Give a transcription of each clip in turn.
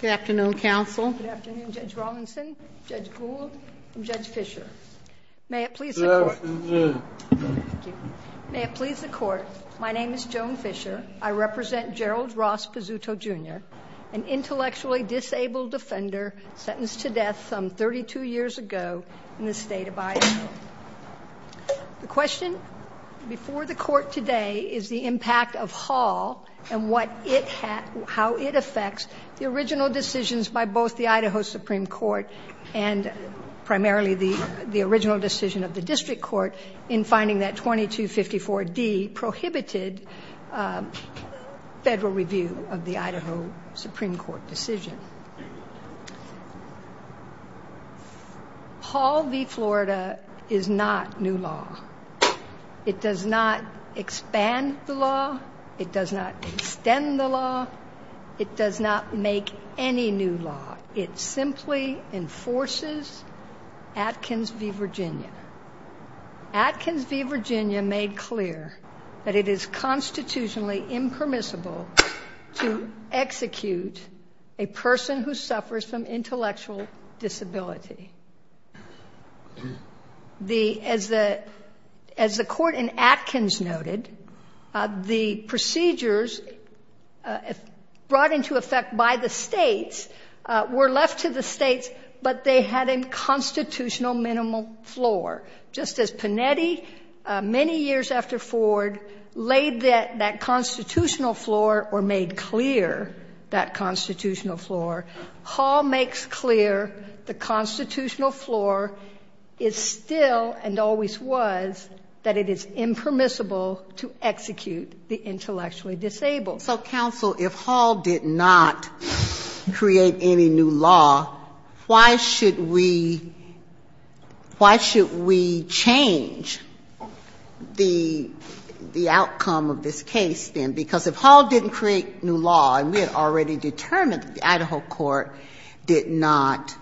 Good afternoon, counsel. Good afternoon, Judge Rawlinson, Judge Gould, and Judge Fischer. May it please the Court, my name is Joan Fischer. I represent Gerald Ross Pizzuto, Jr., an intellectually disabled offender sentenced to death some 32 years ago in the state of Iowa. The question before the Court today is the impact of Hall and how it affects the original decisions by both the Idaho Supreme Court and primarily the original decision of the District Court in finding that 2254D prohibited federal review of the Idaho Supreme Court decision. Hall v. Florida is not new law. It does not expand the law. It does not extend the law. It does not make any new law. It simply enforces Atkins v. Virginia. Atkins v. Virginia made clear that it is constitutionally impermissible to execute a person who suffers from intellectual disability. As the Court in Atkins noted, the procedures brought into effect by the states were left to the states, but they had a constitutional minimum floor. Just as Panetti many years after Ford laid that constitutional floor or made clear that constitutional floor, Hall makes clear the constitutional floor is still and always was that it is impermissible to execute the intellectually disabled. So, counsel, if Hall did not create any new law, why should we change the outcome of this case then? Because if Hall didn't create new law and we had already determined that the Idaho Court did not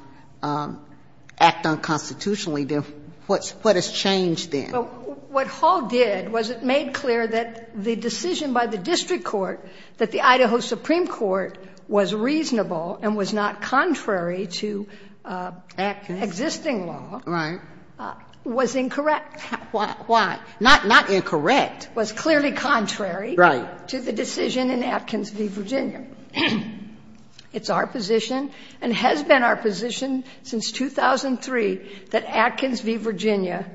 act unconstitutionally, then what has changed then? What Hall did was it made clear that the decision by the District Court that the Idaho Supreme Court was reasonable and was not contrary to existing law was incorrect. Why? Not incorrect. It was clearly contrary to the decision in Atkins v. Virginia. It's our position and has been our position since 2003 that Atkins v. Virginia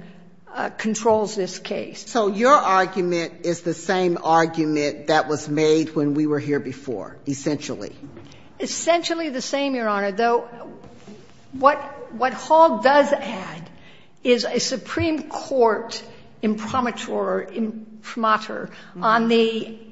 controls this case. So your argument is the same argument that was made when we were here before, essentially? Essentially the same, Your Honor. Though what Hall does add is a Supreme Court imprimatur on the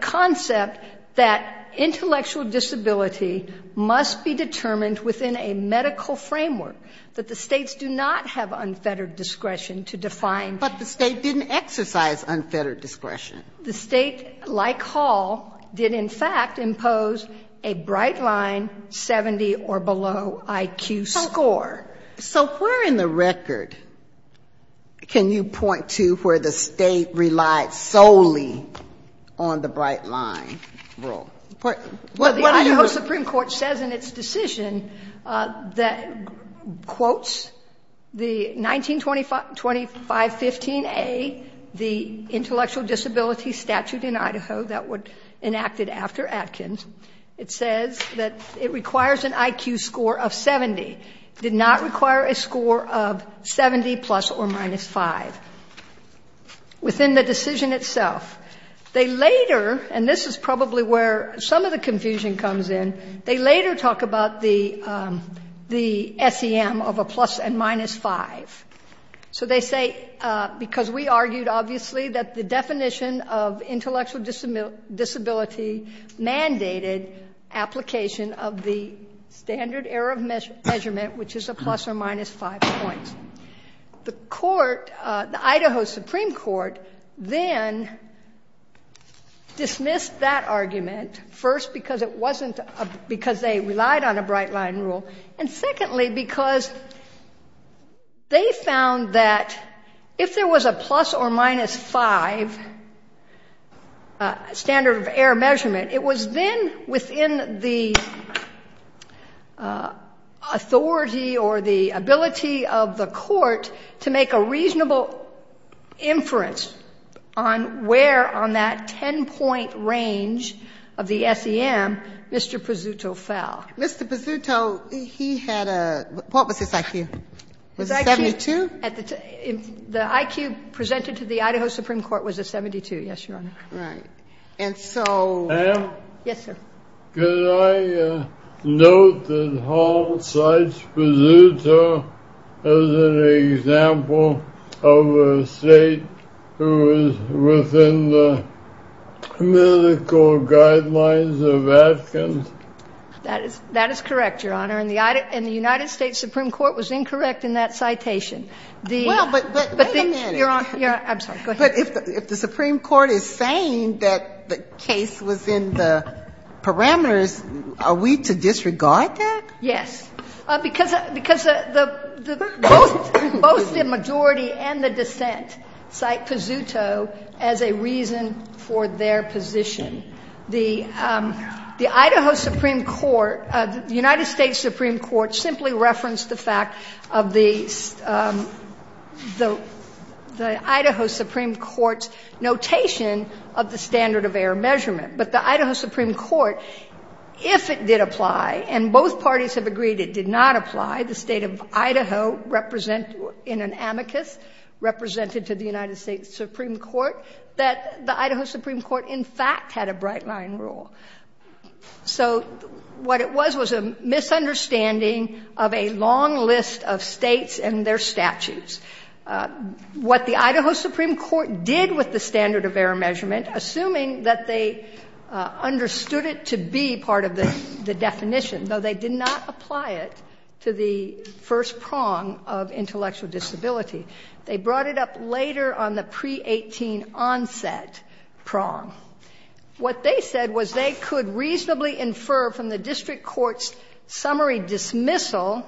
concept that intellectual disability must be determined within a medical framework, that the States do not have unfettered discretion to define. But the State didn't exercise unfettered discretion. The State, like Hall, did in fact impose a Bright Line 70 or below IQ score. So where in the record can you point to where the State relied solely on the Bright Line rule? The Idaho Supreme Court says in its decision that, quote, the 1925-15a, the intellectual disability statute in Idaho that was enacted after Atkins, it says that it requires an IQ score of 70. It did not require a score of 70 plus or minus 5. Within the decision itself, they later, and this is probably where some of the confusion comes in, they later talk about the SEM of a plus and minus 5. So they say, because we argued, obviously, that the definition of intellectual disability mandated application of the standard error of measurement, which is a plus or minus 5 points. The court, the Idaho Supreme Court, then dismissed that argument, first because it wasn't, because they relied on a Bright Line rule, and secondly because they found that if there was a plus or minus 5 standard of error measurement, it was then within the authority or the ability of the court to make a reasonable inference on where on that 10-point range of the SEM Mr. Pezzuto fell. Mr. Pezzuto, he had a — what was his IQ? Was it 72? The IQ presented to the Idaho Supreme Court was a 72, yes, Your Honor. Right. And so — Ma'am? Yes, sir. Could I note that Hall cites Pezzuto as an example of a state who is within the medical guidelines of Atkins? That is correct, Your Honor, and the United States Supreme Court was incorrect in that citation. Well, but wait a minute. I'm sorry, go ahead. But if the Supreme Court is saying that the case was in the parameters, are we to disregard that? Yes, because the — both the majority and the dissent cite Pezzuto as a reason for their position. The Idaho Supreme Court — the United States Supreme Court simply referenced the fact of the — the Idaho Supreme Court's notation of the standard of error measurement. But the Idaho Supreme Court, if it did apply, and both parties have agreed it did not apply, the State of Idaho represent — in an amicus represented to the United States Supreme Court that the Idaho Supreme Court in fact had a bright-line rule. So what it was was a misunderstanding of a long list of States and their statutes. What the Idaho Supreme Court did with the standard of error measurement, assuming that they understood it to be part of the definition, though they did not What they said was they could reasonably infer from the district court's summary dismissal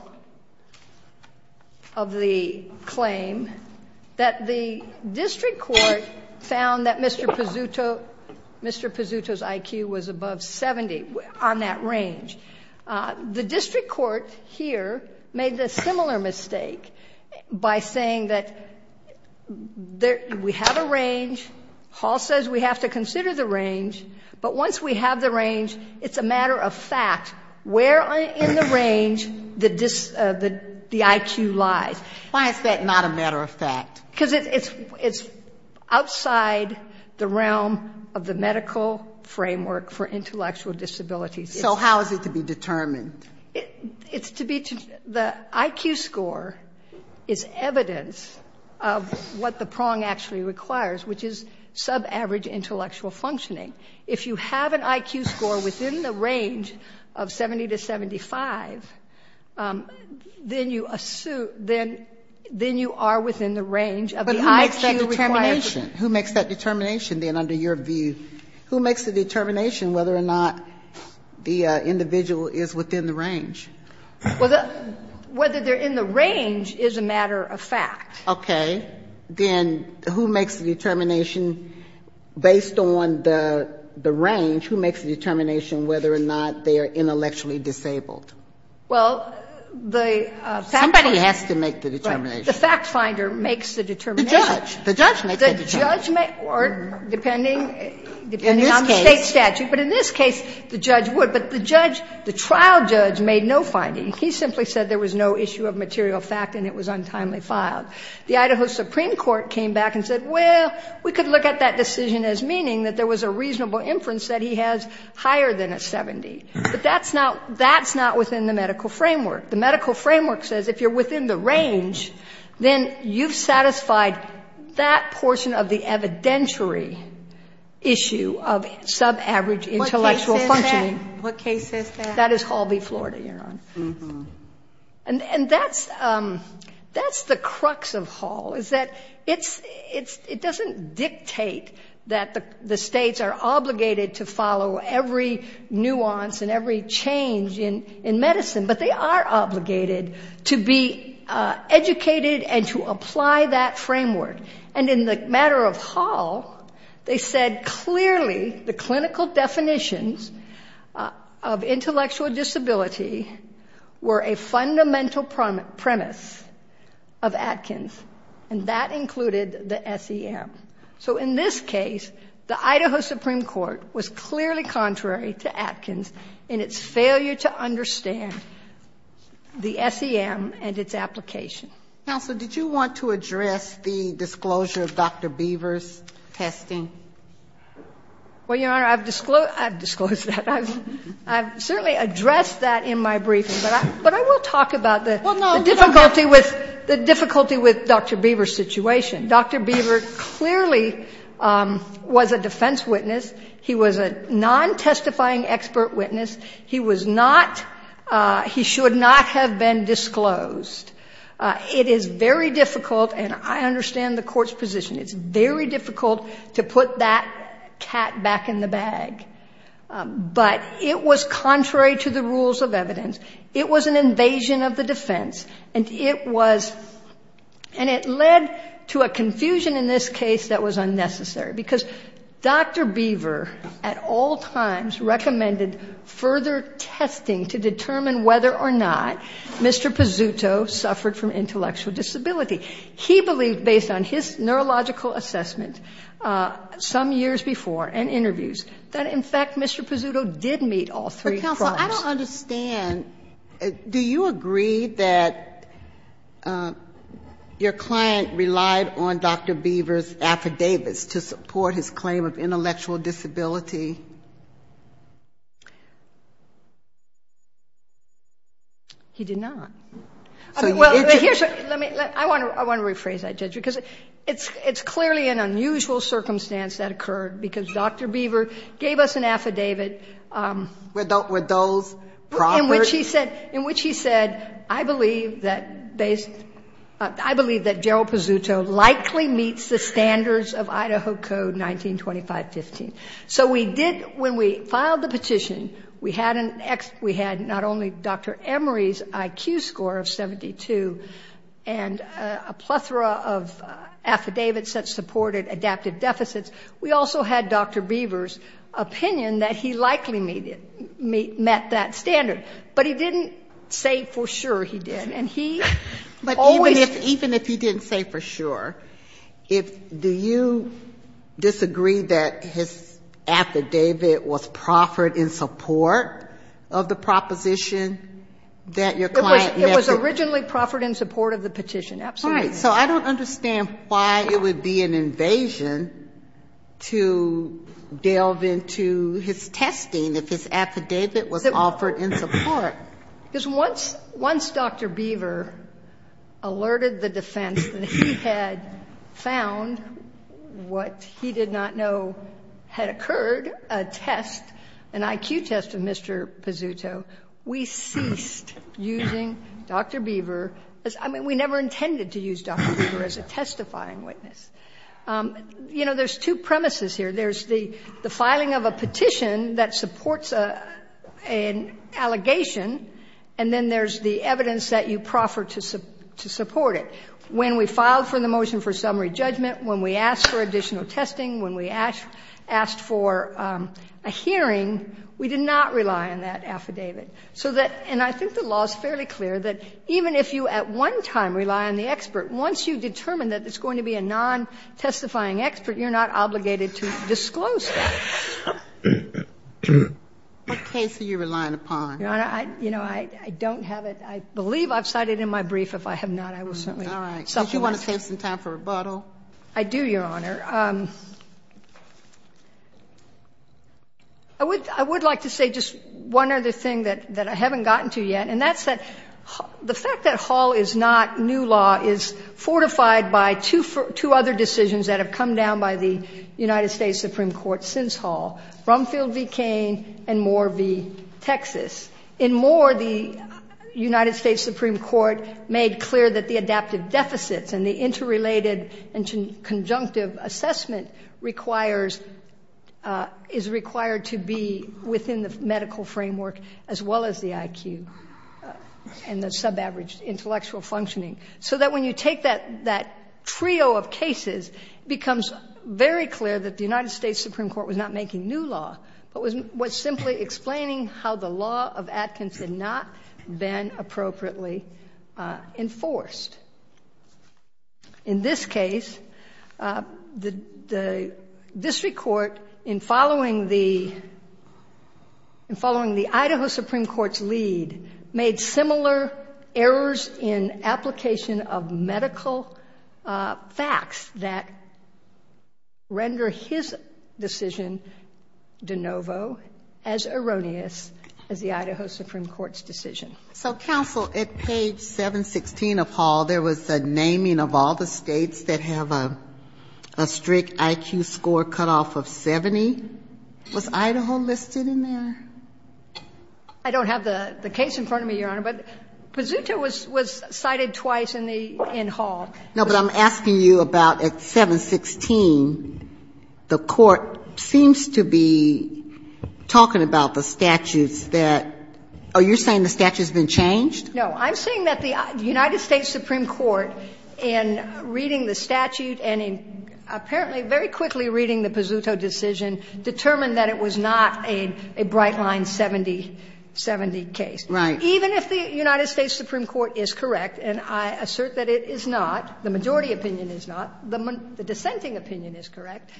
of the claim that the district court found that Mr. Pezzuto — Mr. Pezzuto's IQ was above 70 on that range. The district court here made the similar mistake by saying that there — we have a range Hall says we have to consider the range, but once we have the range, it's a matter of fact where in the range the IQ lies. Why is that not a matter of fact? Because it's outside the realm of the medical framework for intellectual disabilities. So how is it to be determined? It's to be — the IQ score is evidence of what the prong actually requires, which is sub-average intellectual functioning. If you have an IQ score within the range of 70 to 75, then you assume — then you are within the range of the IQ requirement. But who makes that determination? Who makes that determination, then, under your view? Who makes the determination whether or not the individual is within the range? Whether they're in the range is a matter of fact. Okay. Then who makes the determination based on the range, who makes the determination whether or not they are intellectually disabled? Well, the fact finder — Somebody has to make the determination. Right. The fact finder makes the determination. The judge. The judge makes the determination. The judge may — depending on the State statute. In this case. But in this case, the judge would. But the judge, the trial judge, made no finding. He simply said there was no issue of material fact and it was untimely filed. The Idaho Supreme Court came back and said, well, we could look at that decision as meaning that there was a reasonable inference that he has higher than a 70. But that's not — that's not within the medical framework. The medical framework says if you're within the range, then you've satisfied that portion of the evidentiary issue of sub-average intellectual functioning. What case is that? What case is that? That is Hall v. Florida, Your Honor. And that's the crux of Hall is that it doesn't dictate that the states are obligated to follow every nuance and every change in medicine, but they are obligated to be educated and to apply that framework. And in the matter of Hall, they said clearly the clinical definitions of intellectual disability were a fundamental premise of Atkins, and that included the SEM. So in this case, the Idaho Supreme Court was clearly contrary to Atkins in its failure to understand the SEM and its application. Ginsburg. Counsel, did you want to address the disclosure of Dr. Beaver's testing? Well, Your Honor, I've disclosed — I've disclosed that. I've certainly addressed that in my briefing, but I will talk about the difficulty with — the difficulty with Dr. Beaver's situation. Dr. Beaver clearly was a defense witness. He was a non-testifying expert witness. He was not — he should not have been disclosed. It is very difficult, and I understand the court's position. It's very difficult to put that cat back in the bag. But it was contrary to the rules of evidence. It was an invasion of the defense, and it was — and it led to a confusion in this case that was unnecessary, because Dr. Beaver at all times recommended further testing to determine whether or not Mr. Pizzuto suffered from intellectual disability. He believed, based on his neurological assessment some years before and interviews, that, in fact, Mr. Pizzuto did meet all three crimes. But, counsel, I don't understand. Do you agree that your client relied on Dr. Beaver's affidavits to support his claim of intellectual disability? He did not. I mean, well, here's — let me — I want to rephrase that, Judge, because it's clearly an unusual circumstance that occurred, because Dr. Beaver gave us an affidavit. Were those proper? In which he said, I believe that based — I believe that Gerald Pizzuto likely meets the standards of Idaho Code 1925-15. So we did — when we filed the petition, we had an — we had not only Dr. Emery's IQ score of 72 and a plethora of affidavits that supported adaptive deficits, we also had Dr. Beaver's opinion that he likely met that standard. But he didn't say for sure he did. And he always — But even if he didn't say for sure, do you disagree that his affidavit was proffered in support of the proposition that your client met the — It was originally proffered in support of the petition. Absolutely. So I don't understand why it would be an invasion to delve into his testing if his affidavit was offered in support. Because once — once Dr. Beaver alerted the defense that he had found what he did not know had occurred, a test, an IQ test of Mr. Pizzuto, we ceased using Dr. Beaver. I mean, we never intended to use Dr. Beaver as a testifying witness. You know, there's two premises here. There's the filing of a petition that supports an allegation, and then there's the evidence that you proffered to support it. When we filed for the motion for summary judgment, when we asked for additional testing, when we asked for a hearing, we did not rely on that affidavit. So that — and I think the law is fairly clear that even if you at one time rely on the expert, once you determine that it's going to be a non-testifying expert, you're not obligated to disclose that. What case are you relying upon? Your Honor, I — you know, I don't have it. I believe I've cited in my brief. If I have not, I will certainly supplement. All right. Did you want to save some time for rebuttal? I do, Your Honor. I would — I would like to say just one other thing that I haven't gotten to yet, and that's that the fact that Hall is not new law is fortified by two other decisions that have come down by the United States Supreme Court since Hall, Brumfield v. Cain and Moore v. Texas. In Moore, the United States Supreme Court made clear that the adaptive deficits and the interrelated and conjunctive assessment requires — is required to be within the medical framework as well as the IQ and the subaverage intellectual functioning, so that when you take that trio of cases, it becomes very clear that the United States Supreme Court was not making new law, but was simply explaining how the law of Atkins had not been appropriately enforced. In this case, the district court, in following the — in following the Idaho Supreme Court's lead, made similar errors in application of medical facts that render his decision, de novo, as erroneous as the Idaho Supreme Court's decision. So, counsel, at page 716 of Hall, there was a naming of all the states that have a strict IQ score cutoff of 70. Was Idaho listed in there? I don't have the case in front of me, Your Honor, but Pazuta was cited twice in the — in Hall. No, but I'm asking you about at 716, the court seems to be talking about the statutes that — oh, you're saying the statute's been changed? No. I'm saying that the United States Supreme Court, in reading the statute and in apparently very quickly reading the Pazuta decision, determined that it was not a Brightline 70 — 70 case. Right. Even if the United States Supreme Court is correct, and I assert that it is not, the majority opinion is not, the dissenting opinion is correct,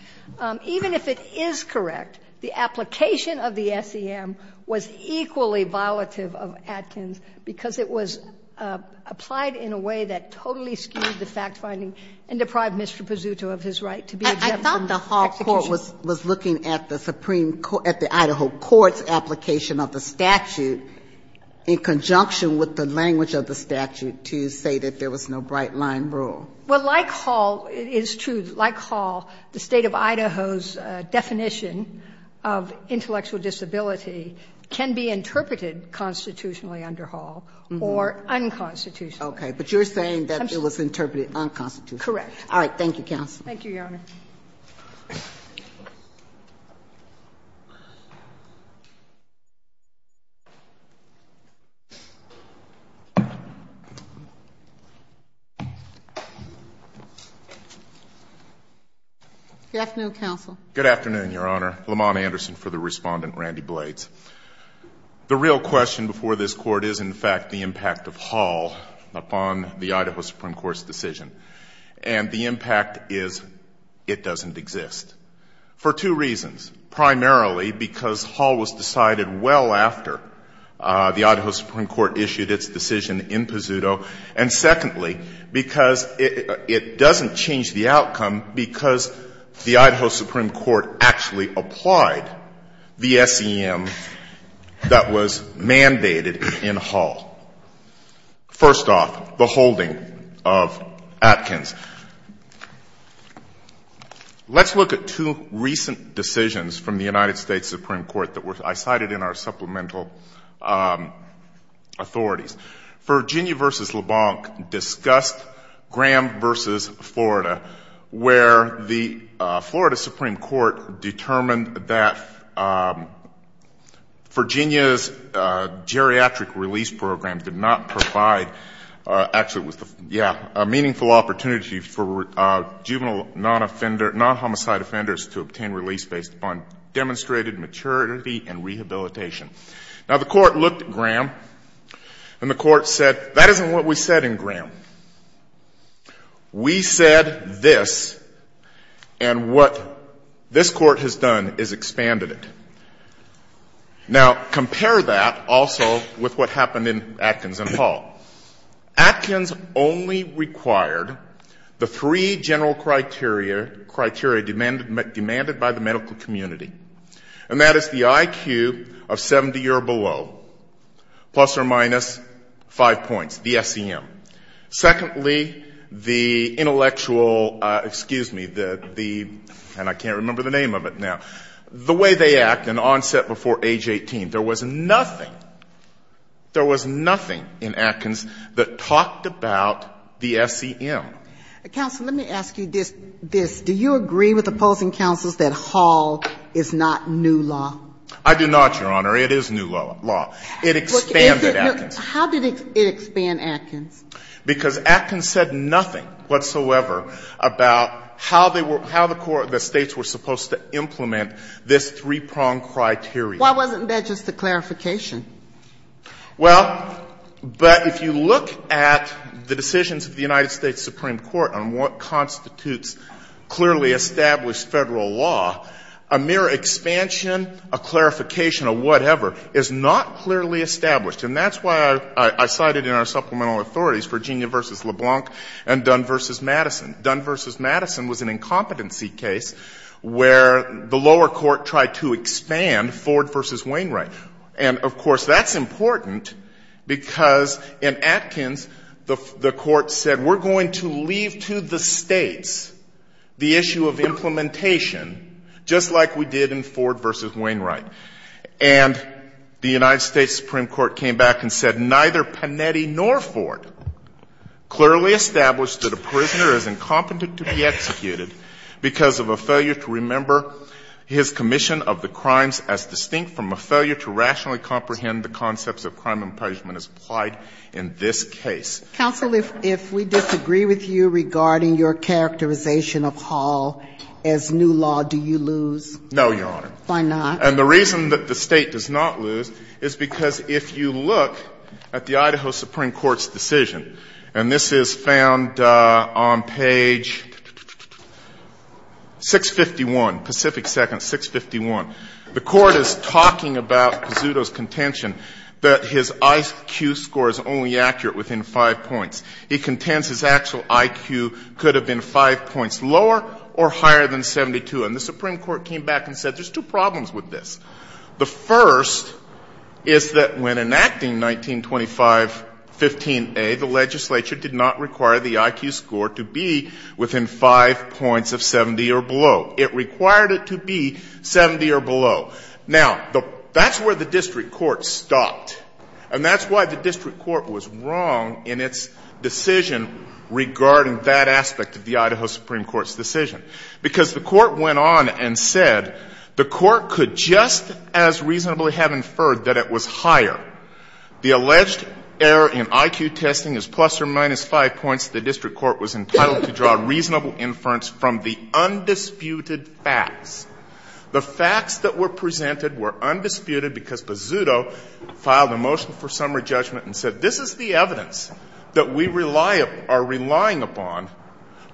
even if it is correct, the application of the SEM was equally violative of Atkins because it was applied in a way that totally skewed the fact-finding and deprived Mr. Pazuta of his right to be a judge in the execution. I thought the Hall court was looking at the Supreme — at the Idaho court's application of the statute in conjunction with the language of the statute to say that there was no Brightline rule. Well, like Hall, it is true that like Hall, the State of Idaho's definition of intellectual disability can be interpreted constitutionally under Hall or unconstitutionally. Okay. But you're saying that it was interpreted unconstitutionally. Correct. All right. Thank you, counsel. Thank you, Your Honor. Good afternoon, counsel. Good afternoon, Your Honor. Lamont Anderson for the Respondent, Randy Blades. The real question before this Court is, in fact, the impact of Hall upon the Idaho Supreme Court's decision. And the impact is significant. The impact of Hall is significant. It doesn't exist for two reasons. Primarily because Hall was decided well after the Idaho Supreme Court issued its decision in Pazuto. And secondly, because it doesn't change the outcome because the Idaho Supreme Court actually applied the SEM that was mandated in Hall. First off, the holding of Atkins. Let's look at two recent decisions from the United States Supreme Court that I cited in our supplemental authorities. Virginia v. LeBlanc discussed Graham v. Florida, where the Florida Supreme Court determined that Virginia's geriatric release program did not provide, actually, a meaningful opportunity for juvenile non-offender, non-homicide offenders to obtain release based upon demonstrated maturity and rehabilitation. Now, the Court looked at Graham, and the Court said, that isn't what we said in Graham. We said this, and what this Court has done is expanded it. Now, compare that also with what happened in Atkins and Hall. Atkins only required the three general criteria demanded by the medical community. And that is the IQ of 70 or below, plus or minus five points, the SEM. Secondly, the intellectual, excuse me, the, and I can't remember the name of it now, the way they act and onset before age 18. There was nothing, there was nothing in Atkins that talked about the SEM. Counsel, let me ask you this. Do you agree with opposing counsels that Hall is not new law? I do not, Your Honor. It is new law. It expanded Atkins. How did it expand Atkins? Because Atkins said nothing whatsoever about how the States were supposed to implement this three-pronged criteria. Why wasn't that just a clarification? Well, but if you look at the decisions of the United States Supreme Court on what constitutes clearly established Federal law, a mere expansion, a clarification of whatever is not clearly established. And that's why I cited in our supplemental authorities Virginia v. LeBlanc and Dunn v. Madison. Dunn v. Madison was an incompetency case where the lower court tried to expand Ford v. Wainwright. And, of course, that's important because in Atkins the Court said we're going to leave to the States the issue of implementation just like we did in Ford v. Wainwright. And the United States Supreme Court came back and said neither Panetti nor Ford clearly established that a prisoner is incompetent to be executed because of a failure to remember his commission of the crimes as distinct from a failure to rationally comprehend the concepts of crime and punishment as applied in this case. Counsel, if we disagree with you regarding your characterization of Hall as new law, do you lose? No, Your Honor. Why not? And the reason that the State does not lose is because if you look at the Idaho Supreme Court's decision, and this is found on page 651, Pacific Seconds, 651, the Court is talking about Pizzuto's contention that his IQ score is only accurate within 5 points. He contends his actual IQ could have been 5 points lower or higher than 72. And the Supreme Court came back and said there's two problems with this. The first is that when enacting 1925.15a, the legislature did not require the IQ score to be within 5 points of 70 or below. It required it to be 70 or below. Now, that's where the district court stopped. And that's why the district court was wrong in its decision regarding that aspect of the Idaho Supreme Court's decision. Because the court went on and said the court could just as reasonably have inferred that it was higher. The alleged error in IQ testing is plus or minus 5 points. The district court was entitled to draw reasonable inference from the undisputed facts. The facts that were presented were undisputed because Pizzuto filed a motion for summary judgment and said this is the evidence that we rely upon, are relying upon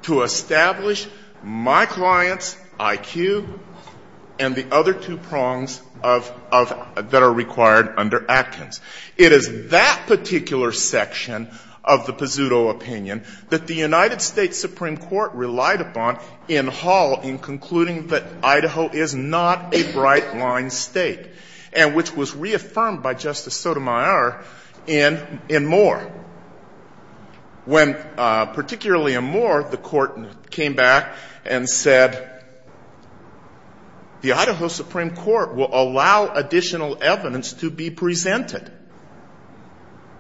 to establish my client's IQ and the other two prongs of, of, that are required under Atkins. It is that particular section of the Pizzuto opinion that the United States Supreme Court relied upon in Hall in concluding that Idaho is not a bright-line State and which was reaffirmed by Justice Sotomayor in, in Moore. When particularly in Moore, the court came back and said the Idaho Supreme Court will allow additional evidence to be presented.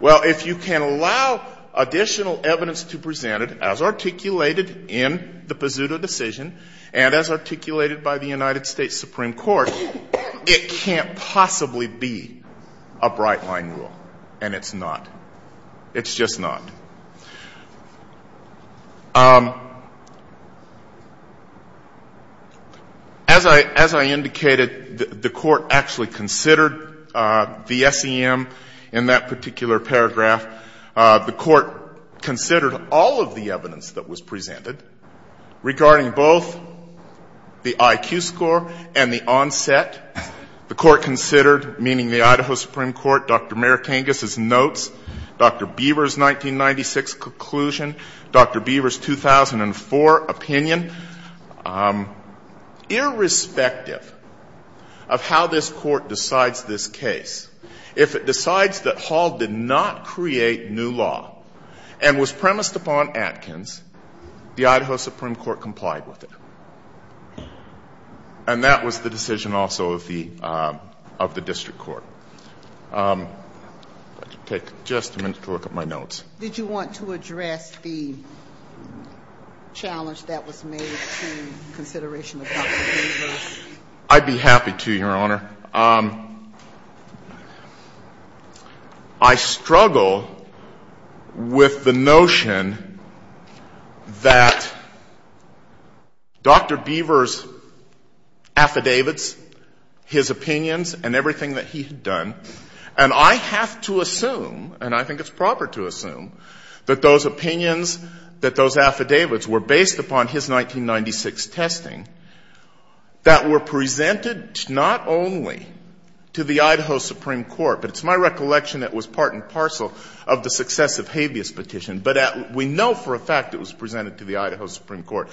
Well, if you can allow additional evidence to be presented as articulated in the Pizzuto decision and as articulated by the United States Supreme Court, it can't possibly be a bright-line rule. And it's not. It's just not. As I, as I indicated, the, the court actually considered the SEM in that particular paragraph. The court considered all of the evidence that was presented regarding both the IQ score and the onset. The court considered, meaning the Idaho Supreme Court, Dr. Marikangas's notes, Dr. Beaver's 1996 conclusion, Dr. Beaver's 2004 opinion. Irrespective of how this Court decides this case, if it decides that Hall did not create new law and was premised upon Atkins, the Idaho Supreme Court complied with it. And that was the decision also of the, of the district court. If I could take just a minute to look at my notes. Did you want to address the challenge that was made to consideration of Dr. Beaver? I'd be happy to, Your Honor. I looked at Dr. Beaver's affidavits, his opinions, and everything that he had done. And I have to assume, and I think it's proper to assume, that those opinions, that those affidavits were based upon his 1996 testing, that were presented not only to the Idaho Supreme Court, but it's my recollection it was part and parcel of the successive habeas petition. But we know for a fact it was presented to the Idaho Supreme Court,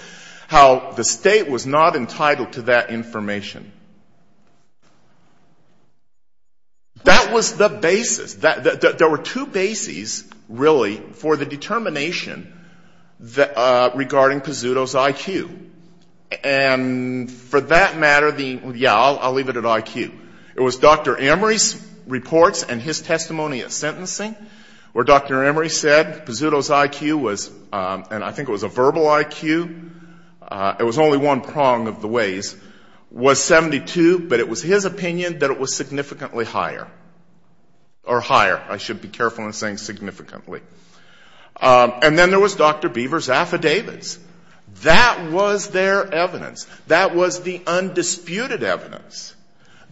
how the state was not entitled to that information. That was the basis. There were two bases, really, for the determination regarding Pizzuto's IQ. And for that matter, the, yeah, I'll leave it at IQ. It was Dr. Emory's reports and his testimony at sentencing where Dr. Emory said Pizzuto's IQ was, and I think it was a verbal IQ, it was only one prong of the ways, was 72, but it was his opinion that it was significantly higher. Or higher, I should be careful in saying significantly. And then there was Dr. Beaver's affidavits. That was their evidence. That was the undisputed evidence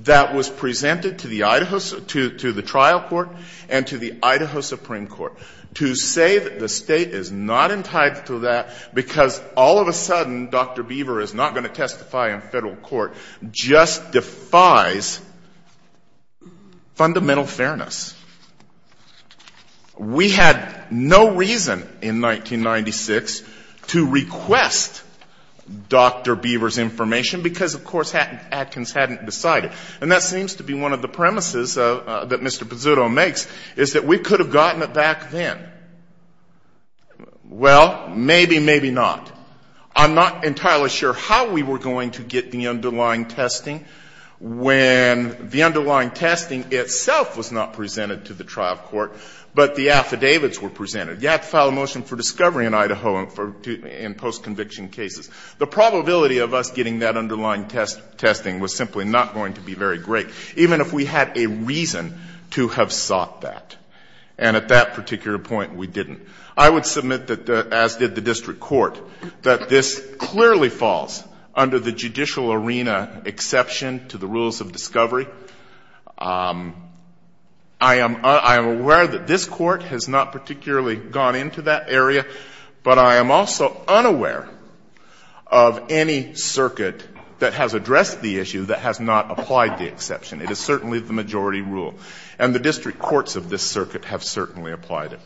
that was presented to the Idaho, to the trial court and to the Idaho Supreme Court. To say that the State is not entitled to that because all of a sudden Dr. Beaver is not going to testify in Federal court just defies fundamental fairness. We had no reason in 1996 to request Dr. Beaver's information because, of course, Atkins hadn't decided. And that seems to be one of the premises that Mr. Pizzuto makes, is that we could have gotten it back then. Well, maybe, maybe not. I'm not entirely sure how we were going to get the underlying testing when the underlying testing itself was not presented to the trial court, but the affidavits were presented. You had to file a motion for discovery in Idaho in post-conviction cases. The probability of us getting that underlying testing was simply not going to be very great, even if we had a reason to have sought that. And at that particular point, we didn't. I would submit that, as did the district court, that this clearly falls under the judicial arena exception to the rules of discovery. I am aware that this Court has not particularly gone into that area, but I am also unaware of any circuit that has addressed the issue that has not applied the exception. It is certainly the majority rule. And the district courts of this circuit have certainly applied it.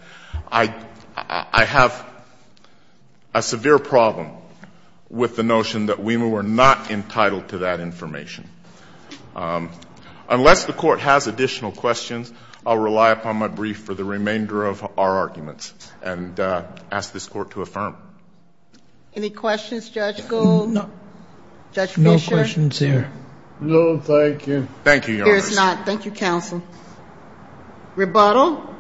I have a severe problem with the notion that we were not entitled to that information. Unless the Court has additional questions, I'll rely upon my brief for the remainder of our arguments and ask this Court to affirm. Any questions, Judge Gould? Judge Fischer? No questions here. No, thank you. Thank you, Your Honor. There is not. Thank you, counsel. Rebuttal?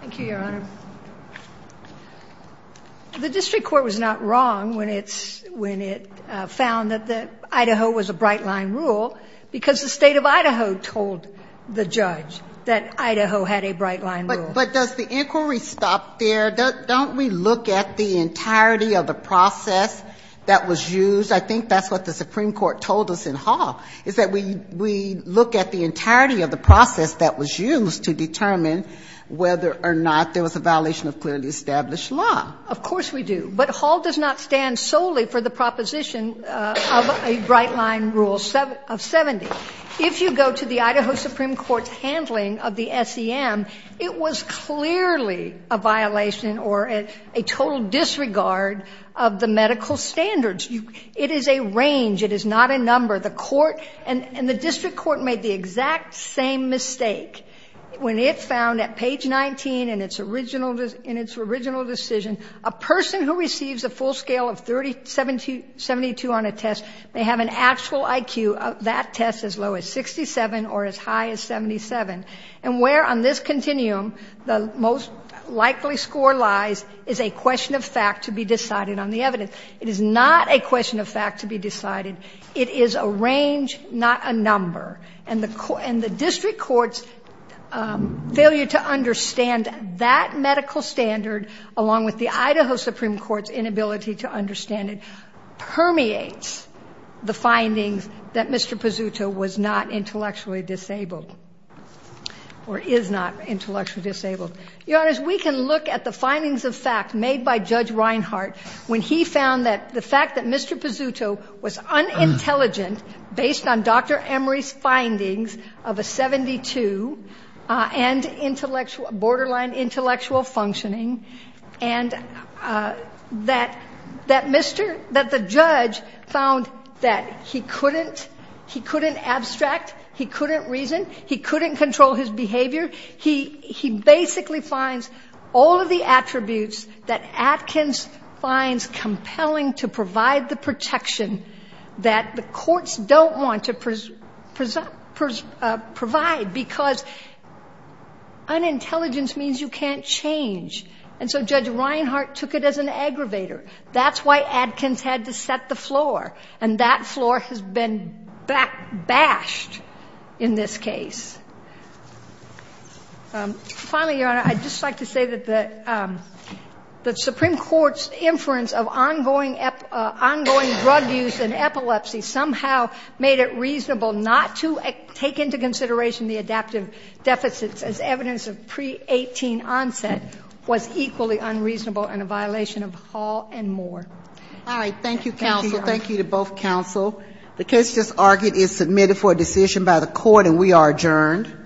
Thank you, Your Honor. The district court was not wrong when it found that Idaho was a bright-line rule, because the State of Idaho told the judge that Idaho had a bright-line rule. But does the inquiry stop there? Don't we look at the entirety of the process that was used? I think that's what the Supreme Court told us in Hall, is that we look at the entirety of the process that was used to determine whether or not there was a violation of clearly established law. Of course we do. But Hall does not stand solely for the proposition of a bright-line rule of 70. If you go to the Idaho Supreme Court's handling of the SEM, it was clearly a violation or a total disregard of the medical standards. It is a range. It is not a number. The court and the district court made the exact same mistake. When it found at page 19 in its original decision, a person who receives a full scale of 70-2 on a test may have an actual IQ. That test is as low as 67 or as high as 77. And where on this continuum the most likely score lies is a question of fact to be decided on the evidence. It is not a question of fact to be decided. It is a range, not a number. And the district court's failure to understand that medical standard, along with the Idaho Supreme Court's inability to understand it, permeates the findings that Mr. Pizzuto was not intellectually disabled or is not intellectually disabled. Your Honor, we can look at the findings of fact made by Judge Reinhart when he found that the fact that Mr. Pizzuto was unintelligent based on Dr. Emory's findings of a 72 and borderline intellectual functioning, and that the judge found that he couldn't abstract, he couldn't reason, he couldn't control his behavior. He basically finds all of the attributes that Atkins finds compelling to provide the protection that the courts don't want to provide because unintelligence means you can't change. And so Judge Reinhart took it as an aggravator. That's why Atkins had to set the floor. And that floor has been bashed in this case. Finally, Your Honor, I'd just like to say that the Supreme Court's inference of ongoing drug use and epilepsy somehow made it reasonable not to take into consideration the adaptive deficits as evidence of pre-18 onset was equally unreasonable and a violation of Hall and Moore. All right. Thank you, counsel. Thank you to both counsel. The case just argued is submitted for a decision by the court, and we are adjourned.